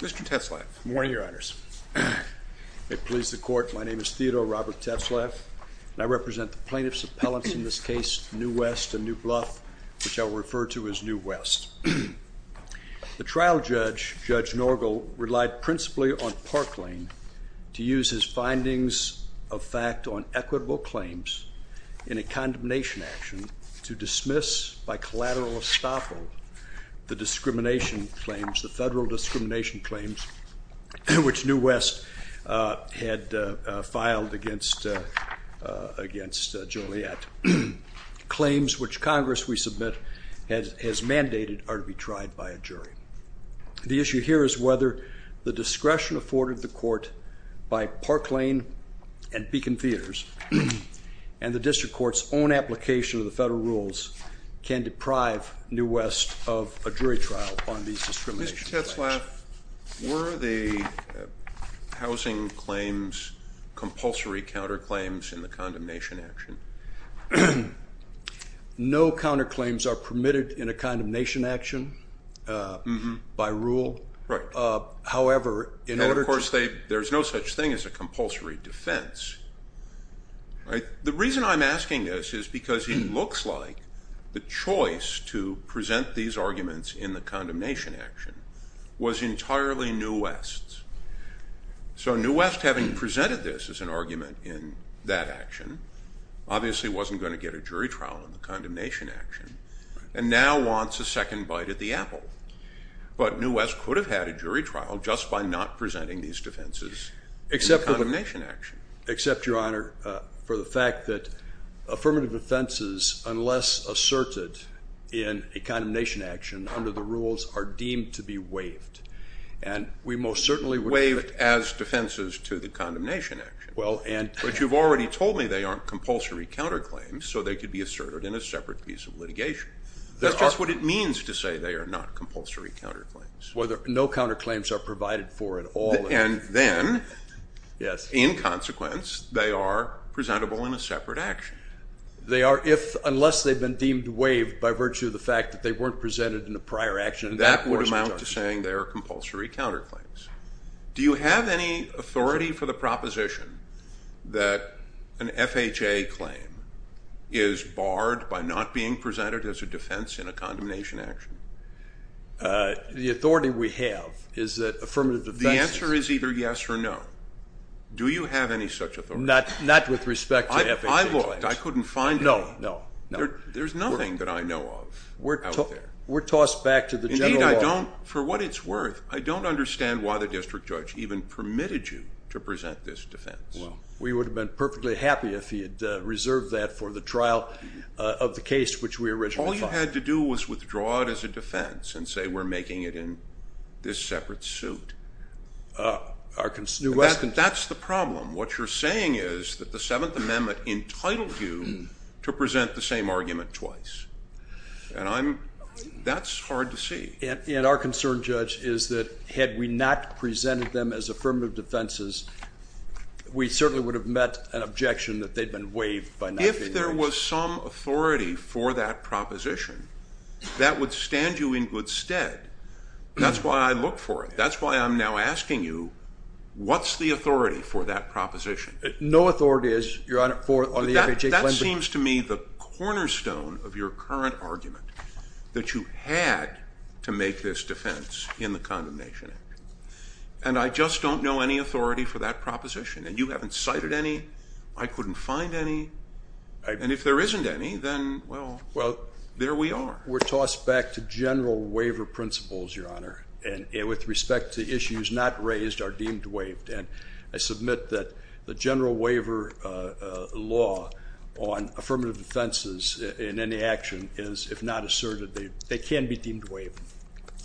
Mr. Tetzlaff. Good morning, Your Honors. May it please the Court, my name is Theodore Robert Tetzlaff and I represent the plaintiffs' appellants in this case, New West and New Bluff, which I will refer to as New West. The trial judge, Judge Norgel, relied principally on Parkland to use his findings of fact on equitable claims in a condemnation action to dismiss by collateral estoppel the discrimination claims, the federal discrimination claims, which New West had filed against Joliet. Claims which Congress, we submit, has mandated are to be tried by a jury. The issue here is whether the discretion afforded the court by Parkland and Beacon Theaters and the district court's own application of the federal rules can deprive New West of a jury trial on these discrimination claims. Mr. Tetzlaff, were the housing claims compulsory counterclaims in the condemnation action? No counterclaims are permitted in a condemnation action by rule. Right. However, in order to... And of course there's no such thing as a because it looks like the choice to present these arguments in the condemnation action was entirely New West's. So New West, having presented this as an argument in that action, obviously wasn't going to get a jury trial in the condemnation action, and now wants a second bite at the apple. But New West could have had a jury trial just by not presenting these defenses in the fact that affirmative offenses, unless asserted in a condemnation action under the rules, are deemed to be waived. And we most certainly would... Waived as defenses to the condemnation action. Well, and... But you've already told me they aren't compulsory counterclaims, so they could be asserted in a separate piece of litigation. That's just what it means to say they are not compulsory counterclaims. Whether no counterclaims are provided for at all... And then, yes, in consequence they are presentable in a separate action. They are if, unless they've been deemed waived by virtue of the fact that they weren't presented in a prior action... That would amount to saying they're compulsory counterclaims. Do you have any authority for the proposition that an FHA claim is barred by not being presented as a defense in a condemnation action? The authority we have is that authority. Not with respect to FHA claims. I looked. I couldn't find any. No, no, no. There's nothing that I know of out there. We're tossed back to the general... Indeed, I don't, for what it's worth, I don't understand why the district judge even permitted you to present this defense. Well, we would have been perfectly happy if he had reserved that for the trial of the case which we originally filed. All you had to do was withdraw it as a defense and say we're making it in this separate suit. That's the problem. What you're saying is that the Seventh Amendment entitled you to present the same argument twice. And I'm, that's hard to see. And our concern, Judge, is that had we not presented them as affirmative defenses, we certainly would have met an objection that they'd been waived by not being... If there was some authority for that proposition, that would stand you in good stead. That's why I look for it. That's why I'm now asking you, what's the authority for that proposition? No authority is, Your Honor, for the FHA claim. That seems to me the cornerstone of your current argument, that you had to make this defense in the Condemnation Act. And I just don't know any authority for that proposition. And you haven't cited any. I couldn't find any. And if there isn't any, then, well, there we are. We're tossed back to general waiver principles, Your Honor. And with respect to issues not raised are deemed waived. And I submit that the general waiver law on affirmative defenses in any action is, if not asserted, they can be deemed waived.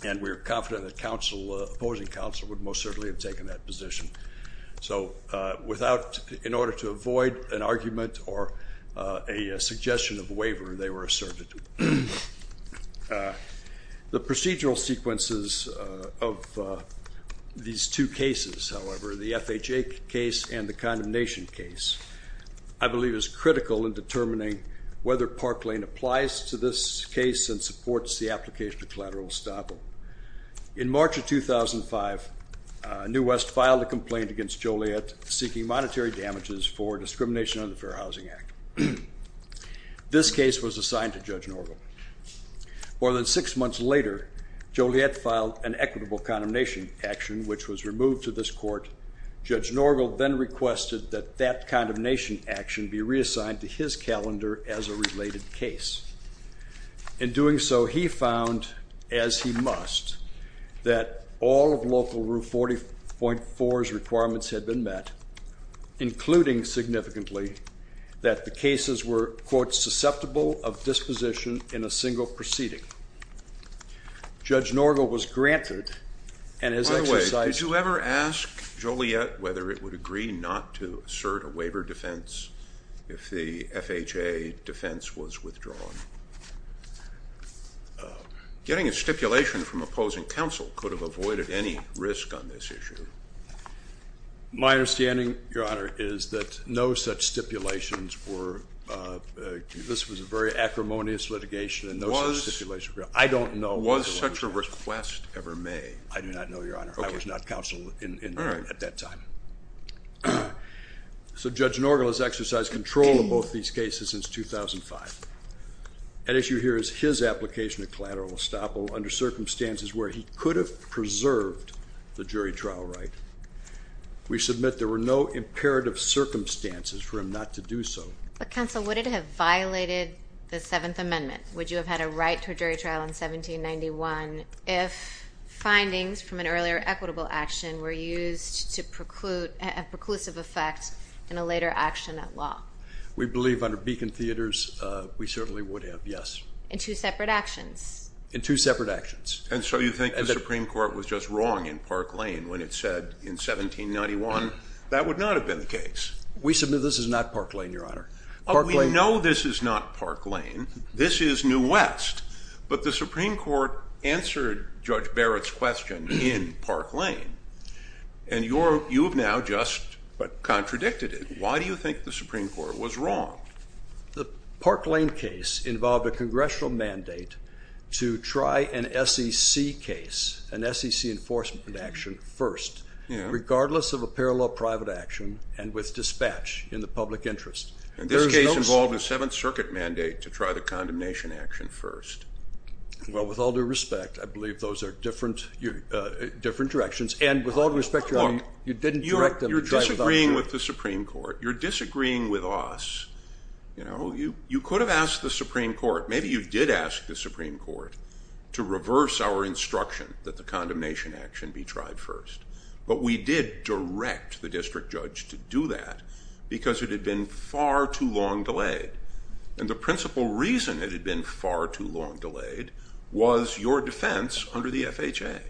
And we're confident that opposing counsel would most certainly have taken that position. So without, in suggestion of waiver, they were asserted. The procedural sequences of these two cases, however, the FHA case and the condemnation case, I believe is critical in determining whether Park Lane applies to this case and supports the application of collateral estoppel. In March of 2005, New West filed a complaint against Joliet seeking monetary damages for discrimination under the Fair Housing Act. This case was assigned to Judge Norgel. More than six months later, Joliet filed an equitable condemnation action, which was removed to this court. Judge Norgel then requested that that condemnation action be reassigned to his calendar as a related case. In doing so, he found, as he must, that all of Local Rule 40.4's requirements had been met, including significantly that the cases were, quote, susceptible of disposition in a single proceeding. Judge Norgel was granted and has exercised... By the way, did you ever ask Joliet whether it would agree not to assert a waiver defense if the FHA defense was withdrawn? Getting a My understanding, Your Honor, is that no such stipulations were... This was a very acrimonious litigation. Was such a request ever made? I do not know, Your Honor. I was not counsel at that time. So Judge Norgel has exercised control of both these cases since 2005. At issue here is his application of collateral estoppel under circumstances where he could have preserved the jury trial right. We submit there were no imperative circumstances for him not to do so. But counsel, would it have violated the Seventh Amendment? Would you have had a right to a jury trial in 1791 if findings from an earlier equitable action were used to preclude a preclusive effect in a later action at law? We believe under Beacon Theaters we certainly would have, yes. In two separate actions? In two separate actions. And so you think the Supreme Court was just wrong in Park Lane when it said in 1791 that would not have been the case? We submit this is not Park Lane, Your Honor. Oh, we know this is not Park Lane. This is New West. But the Supreme Court answered Judge Barrett's question in Park Lane. And you've now just contradicted it. Why do you think the Supreme Court was wrong? The Park Lane case involved a congressional mandate to try an SEC case, an SEC enforcement action first, regardless of a parallel private action and with dispatch in the public interest. And this case involved a Seventh Circuit mandate to try the condemnation action first. Well, with all due respect, I believe those are different directions. And with all due respect, Your Honor, you're disagreeing with the Supreme Court. You're disagreeing with us. You know, you could have asked the Supreme Court. Maybe you did ask the Supreme Court to reverse our instruction that the condemnation action be tried first. But we did direct the district judge to do that because it had been far too long delayed. And the principal reason it had been far too long delayed was your defense under the FHA.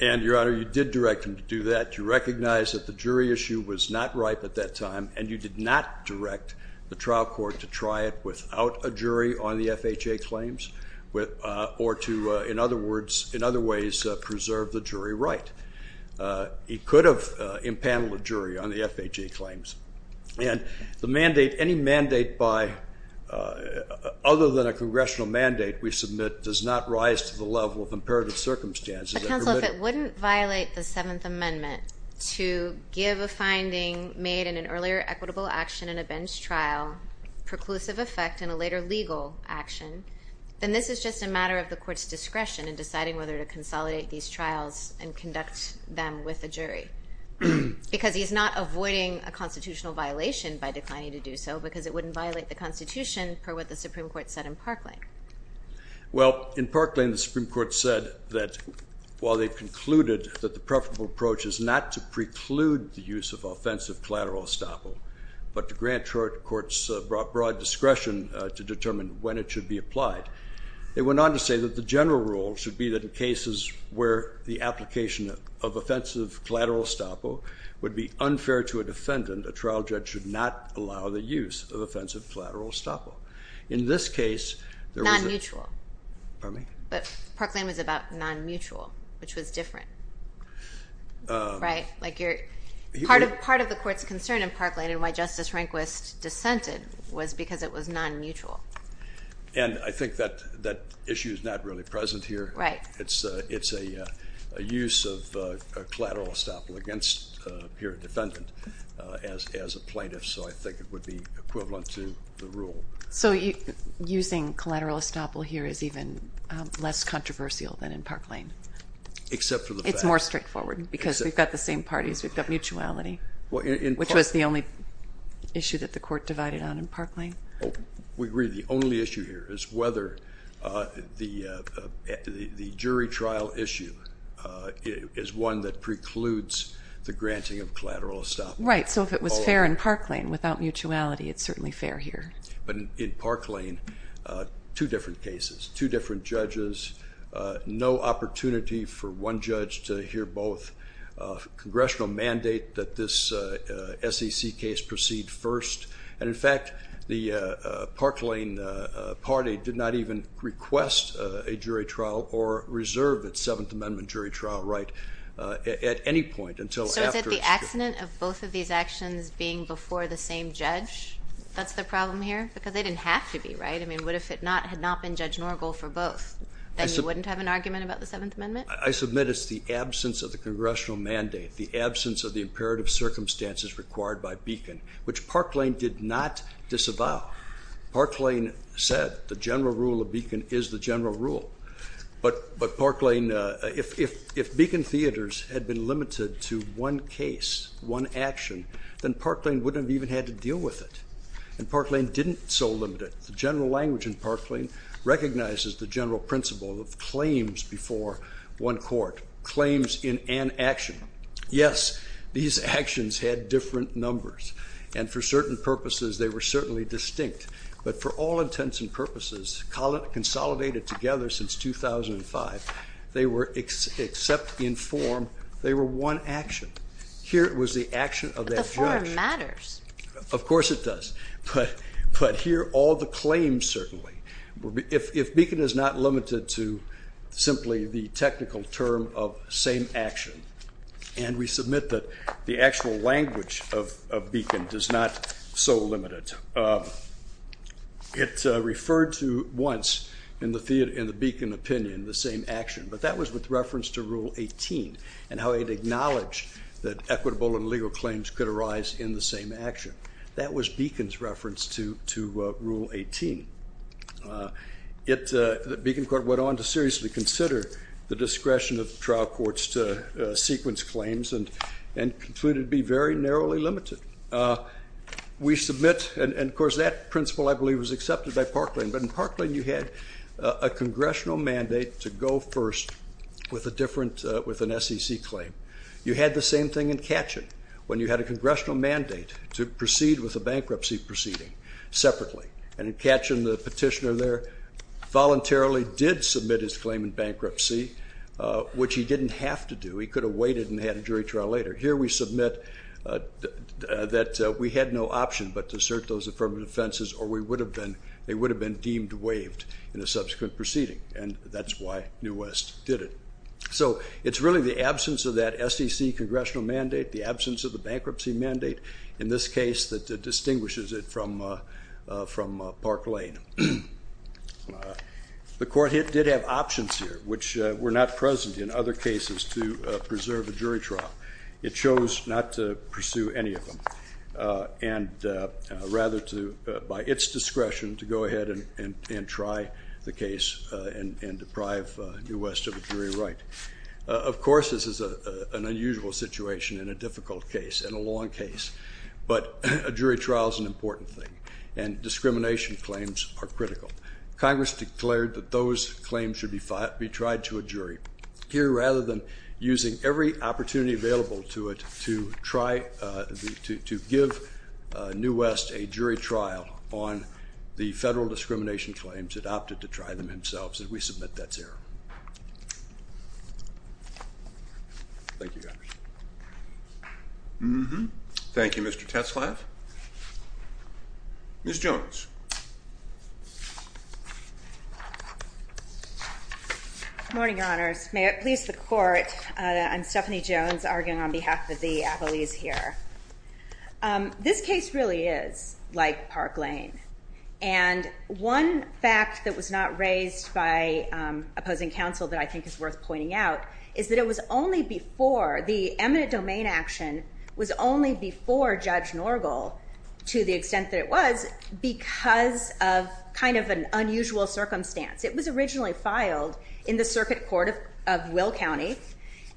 And, Your Honor, you did direct him to do that. You recognize that the jury issue was not ripe at that time, and you did not direct the trial court to try it without a jury on the FHA claims, or to, in other words, in other ways, preserve the jury right. He could have impaneled a jury on the FHA claims. And the mandate, any mandate by, other than a congressional mandate we submit, does not rise to the level of imperative circumstances. But, counsel, if it wouldn't violate the Seventh Amendment to give a finding made in an earlier equitable action in a bench trial, preclusive effect in a later legal action, then this is just a matter of the court's discretion in deciding whether to consolidate these trials and conduct them with a jury. Because he's not avoiding a constitutional violation by declining to do so because it wouldn't violate the Constitution per what the Supreme Court said in Parkland. Well, in Parkland, the Supreme Court said that while they concluded that the preferable approach is not to preclude the use of offensive collateral estoppel, but to grant court's broad discretion to determine when it should be applied, they went on to say that the general rule should be that in cases where the application of offensive collateral estoppel would be unfair to a defendant, a trial judge should not allow the use of offensive collateral estoppel. In this case, there was a... Non-mutual. Pardon me? But Parkland was about non-mutual, which was different. Right? Like you're... Part of the court's concern in Parkland and why Justice Rehnquist dissented was because it was non-mutual. And I think that that issue is not really present here. Right. It's a use of collateral estoppel against a pure defendant as a plaintiff, so I think it would be equivalent to the rule. So using collateral estoppel here is even less controversial than in Parkland. Except for the fact... It's more straightforward because we've got the same parties. We've got mutuality, which was the only issue that the court divided on in Parkland. We agree the only issue here is whether the jury trial issue is one that precludes the granting of collateral estoppel. Right, so if it was fair in Parkland without mutuality, it's certainly fair here. But in Parkland, two different cases, two different judges, no opportunity for one judge to hear both, congressional mandate that this SEC case proceed first, and in fact the Parkland party did not even request a jury trial or reserve its Seventh Amendment jury trial right at any point until after... So is it the accident of both of these actions being before the same judge? That's the problem here? Because they didn't have to be, right? I mean, what if it had not been Judge Norgal for both? Then you wouldn't have an argument about the Seventh Amendment? I submit it's the absence of the congressional mandate, the absence of the imperative circumstances required by Beacon, which Parkland did not disavow. Parkland said the general rule of Beacon is the general rule. But Parkland, if Beacon Theaters had been limited to one case, one action, then Parkland wouldn't have even had to deal with it. And Parkland didn't so limit it. The general language in Parkland recognizes the general principle of claims before one court, claims in an action. Yes, these actions had different numbers, and for certain purposes they were certainly distinct, but for all intents and purposes consolidated together since 2005, they were, except in form, they were one action. Here it was the action of that judge. But the form matters. Of course it does, but here all the claims certainly. If Beacon is not limited to simply the technical term of same action, and we submit that the actual language of Beacon does not so limit it. It referred to once in the Beacon opinion the same action, but that was with reference to Rule 18 and how it acknowledged that equitable and legal claims could arise in the same action. That was Beacon's reference to Rule 18. The Beacon Court went on to seriously consider the discretion of trial courts to sequence claims and concluded it would be very narrowly limited. We submit, and of course this was accepted by Parkland, but in Parkland you had a congressional mandate to go first with a different, with an SEC claim. You had the same thing in Katchen when you had a congressional mandate to proceed with a bankruptcy proceeding separately, and in Katchen the petitioner there voluntarily did submit his claim in bankruptcy, which he didn't have to do. He could have waited and had a jury trial later. Here we submit that we had no defenses or we would have been, they would have been deemed waived in a subsequent proceeding, and that's why New West did it. So it's really the absence of that SEC congressional mandate, the absence of the bankruptcy mandate in this case that distinguishes it from Park Lane. The court did have options here which were not present in other cases to preserve a jury trial. It was by its discretion to go ahead and try the case and deprive New West of a jury right. Of course this is an unusual situation in a difficult case, in a long case, but a jury trial is an important thing, and discrimination claims are critical. Congress declared that those claims should be tried to a jury. Here rather than using every opportunity available to it to try, to give New West a jury trial on the federal discrimination claims, it opted to try them himself. So we submit that's error. Thank you, Mr. Tetzlaff. Ms. Jones. Good morning, Your Honors. May it please the Court, I'm Stephanie Jones arguing on a case like Park Lane, and one fact that was not raised by opposing counsel that I think is worth pointing out is that it was only before, the eminent domain action was only before Judge Norgal, to the extent that it was, because of kind of an unusual circumstance. It was originally filed in the Circuit Court of Will County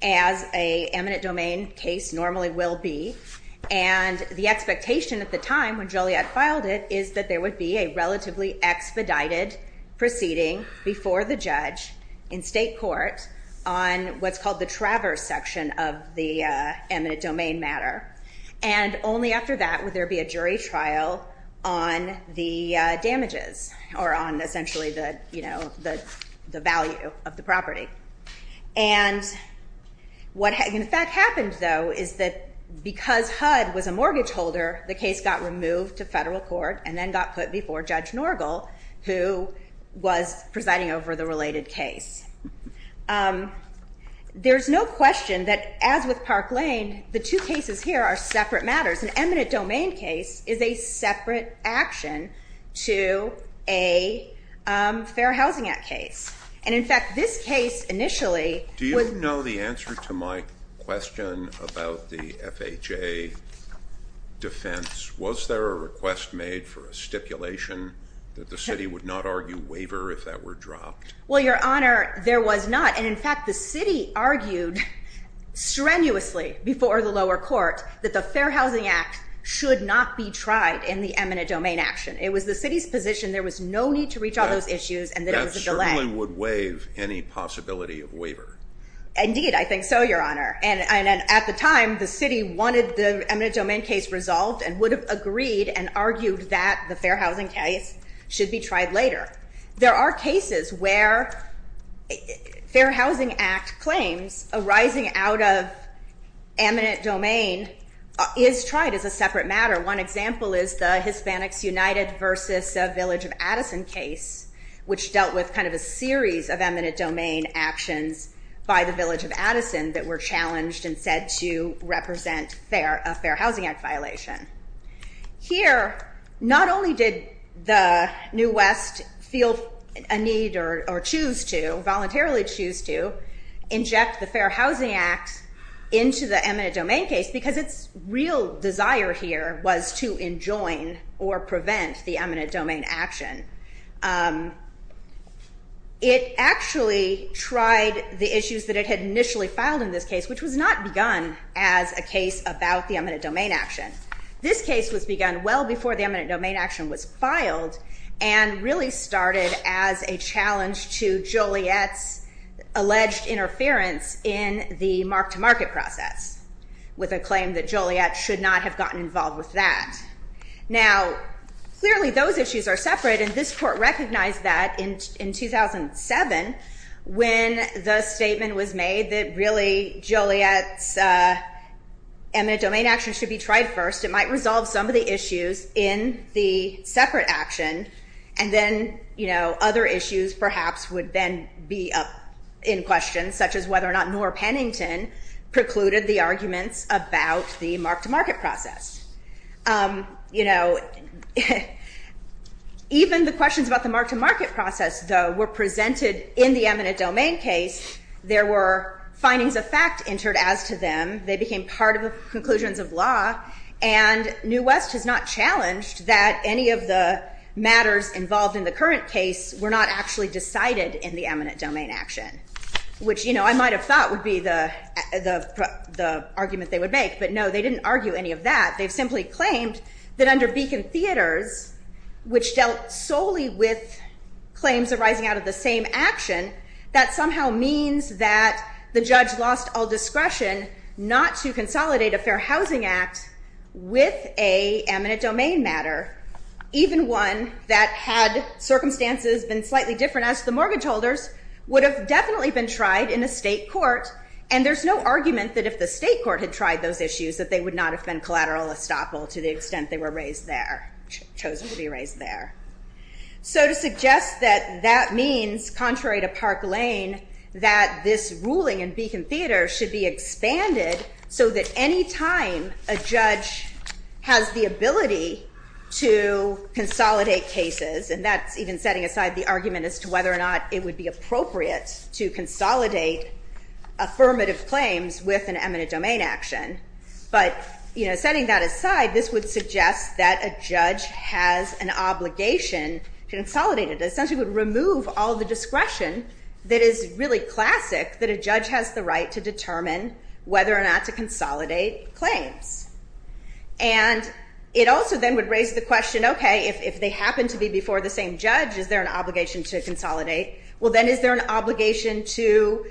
as a eminent domain case normally will be, and the expectation at the time when Joliet filed it is that there would be a relatively expedited proceeding before the judge in state court on what's called the Traverse section of the eminent domain matter, and only after that would there be a jury trial on the damages, or on essentially the, you know, the value of the property. And what in fact happened though is that because HUD was a move to federal court and then got put before Judge Norgal, who was presiding over the related case. There's no question that as with Park Lane, the two cases here are separate matters. An eminent domain case is a separate action to a Fair Housing Act case, and in fact this case initially... Do you know the answer to my question about the FHA defense? Was there a request made for a stipulation that the city would not argue waiver if that were dropped? Well Your Honor, there was not, and in fact the city argued strenuously before the lower court that the Fair Housing Act should not be tried in the eminent domain action. It was the city's position there was no need to reach all those I think so, Your Honor, and at the time the city wanted the eminent domain case resolved and would have agreed and argued that the Fair Housing case should be tried later. There are cases where Fair Housing Act claims arising out of eminent domain is tried as a separate matter. One example is the Hispanics United versus Village of Addison case, which dealt with kind of a that were challenged and said to represent a Fair Housing Act violation. Here, not only did the New West feel a need or choose to, voluntarily choose to, inject the Fair Housing Act into the eminent domain case because its real desire here was to enjoin or prevent the eminent domain action. It actually tried the issues that it had initially filed in this case, which was not begun as a case about the eminent domain action. This case was begun well before the eminent domain action was filed and really started as a challenge to Joliet's alleged interference in the mark-to-market process with a claim that Joliet should not have gotten involved with that. Now, clearly those issues are different. If the statement was made that really Joliet's eminent domain action should be tried first, it might resolve some of the issues in the separate action and then, you know, other issues perhaps would then be up in question, such as whether or not Noor Pennington precluded the arguments about the mark-to-market process. You know, even the questions about the mark-to-market process, though, were presented in the case. There were findings of fact entered as to them. They became part of the conclusions of law and New West has not challenged that any of the matters involved in the current case were not actually decided in the eminent domain action, which, you know, I might have thought would be the argument they would make, but no, they didn't argue any of that. They simply claimed that under Beacon Theaters, which dealt solely with claims arising out of the same action, that somehow means that the judge lost all discretion not to consolidate a Fair Housing Act with a eminent domain matter, even one that had circumstances been slightly different as the mortgage holders would have definitely been tried in a state court and there's no argument that if the state court had tried those issues that they would not have been collateral estoppel to the extent they were raised there, chosen to be raised there. So to suggest that that means, contrary to Park Lane, that this ruling in Beacon Theater should be expanded so that any time a judge has the ability to consolidate cases, and that's even setting aside the argument as to whether or not it would be appropriate to consolidate affirmative claims with an eminent domain action, but, you know, setting that aside, this would suggest that a judge has an obligation to discretion that is really classic, that a judge has the right to determine whether or not to consolidate claims. And it also then would raise the question, okay, if they happen to be before the same judge, is there an obligation to consolidate? Well, then is there an obligation to,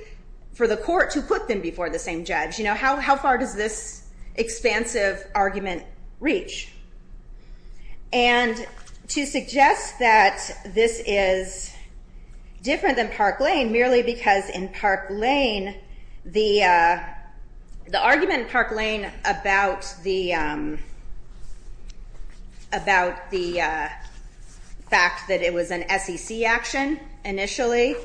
for the court to put them before the same judge? You know, how far does this expansive argument reach? And to suggest that this is different than Park Lane, merely because in Park Lane, the argument in Park Lane about the fact that it was an SEC action initially,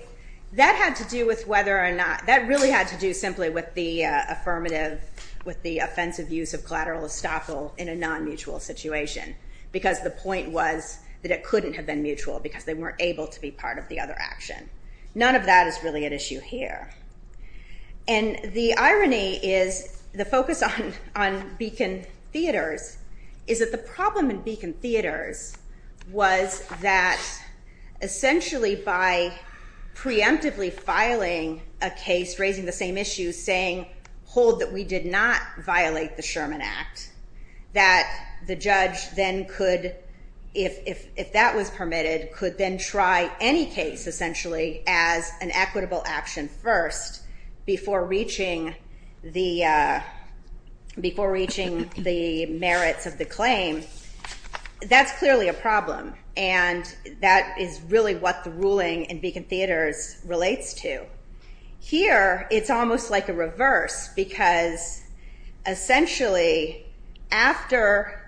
that had to do with whether or not, that really had to do simply with the affirmative, with the offensive use of collateral estoppel in a non-mutual situation, because the point was that it couldn't have been mutual, because they weren't able to be part of the other action. None of that is really an issue here. And the irony is, the focus on on Beacon Theaters, is that the problem in Beacon Theaters was that essentially by preemptively filing a case, raising the same issue, saying, hold that we did not violate the Sherman Act, that the judge then could, if that was permitted, could then try any case essentially as an equitable action first, before reaching the merits of the claim. That's clearly a problem, and that is really what the ruling in Beacon Theaters is, almost like a reverse, because essentially after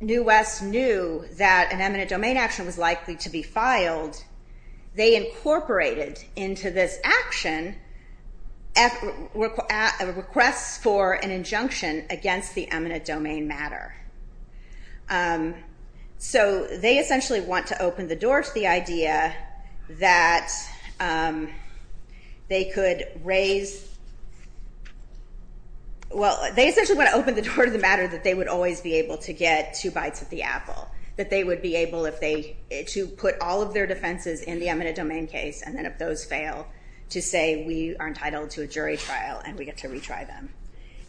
New West knew that an eminent domain action was likely to be filed, they incorporated into this action a request for an injunction against the eminent domain matter. So they essentially want to open the door to the matter that they would always be able to get two bites at the apple. That they would be able to put all of their defenses in the eminent domain case, and then if those fail, to say we are entitled to a jury trial and we get to retry them.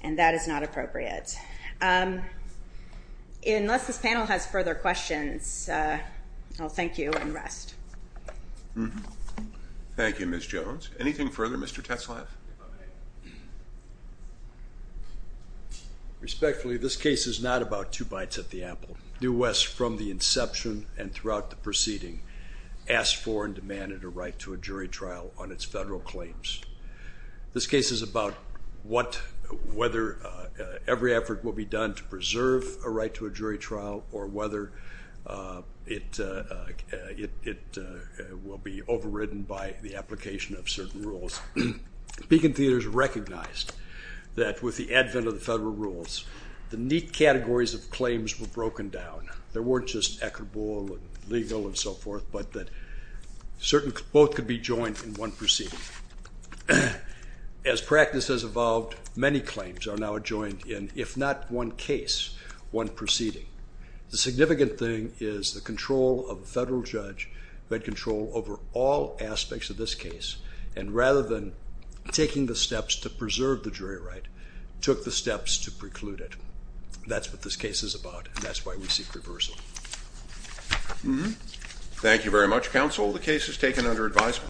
And that is not appropriate. Unless this panel has further questions, I'll thank you and rest. Thank you, Ms. Jones. Anything further, Mr. Tetzlaff? Respectfully, this case is not about two bites at the apple. New West, from the inception and throughout the proceeding, asked for and demanded a right to a jury trial on its federal claims. This case is about whether every effort will be done to preserve a right to a jury trial, or whether it will be overridden by the application of certain rules. Beacon Theaters recognized that with the advent of the federal rules, the neat categories of claims were broken down. There weren't just equitable and legal and so forth, but that both could be joined in one proceeding. As practice has evolved, many claims are now adjoined in one case, one proceeding. The significant thing is the control of a federal judge who had control over all aspects of this case, and rather than taking the steps to preserve the jury right, took the steps to preclude it. That's what this case is about, and that's why we seek reversal. Thank you very much, counsel. The case is taken under advisable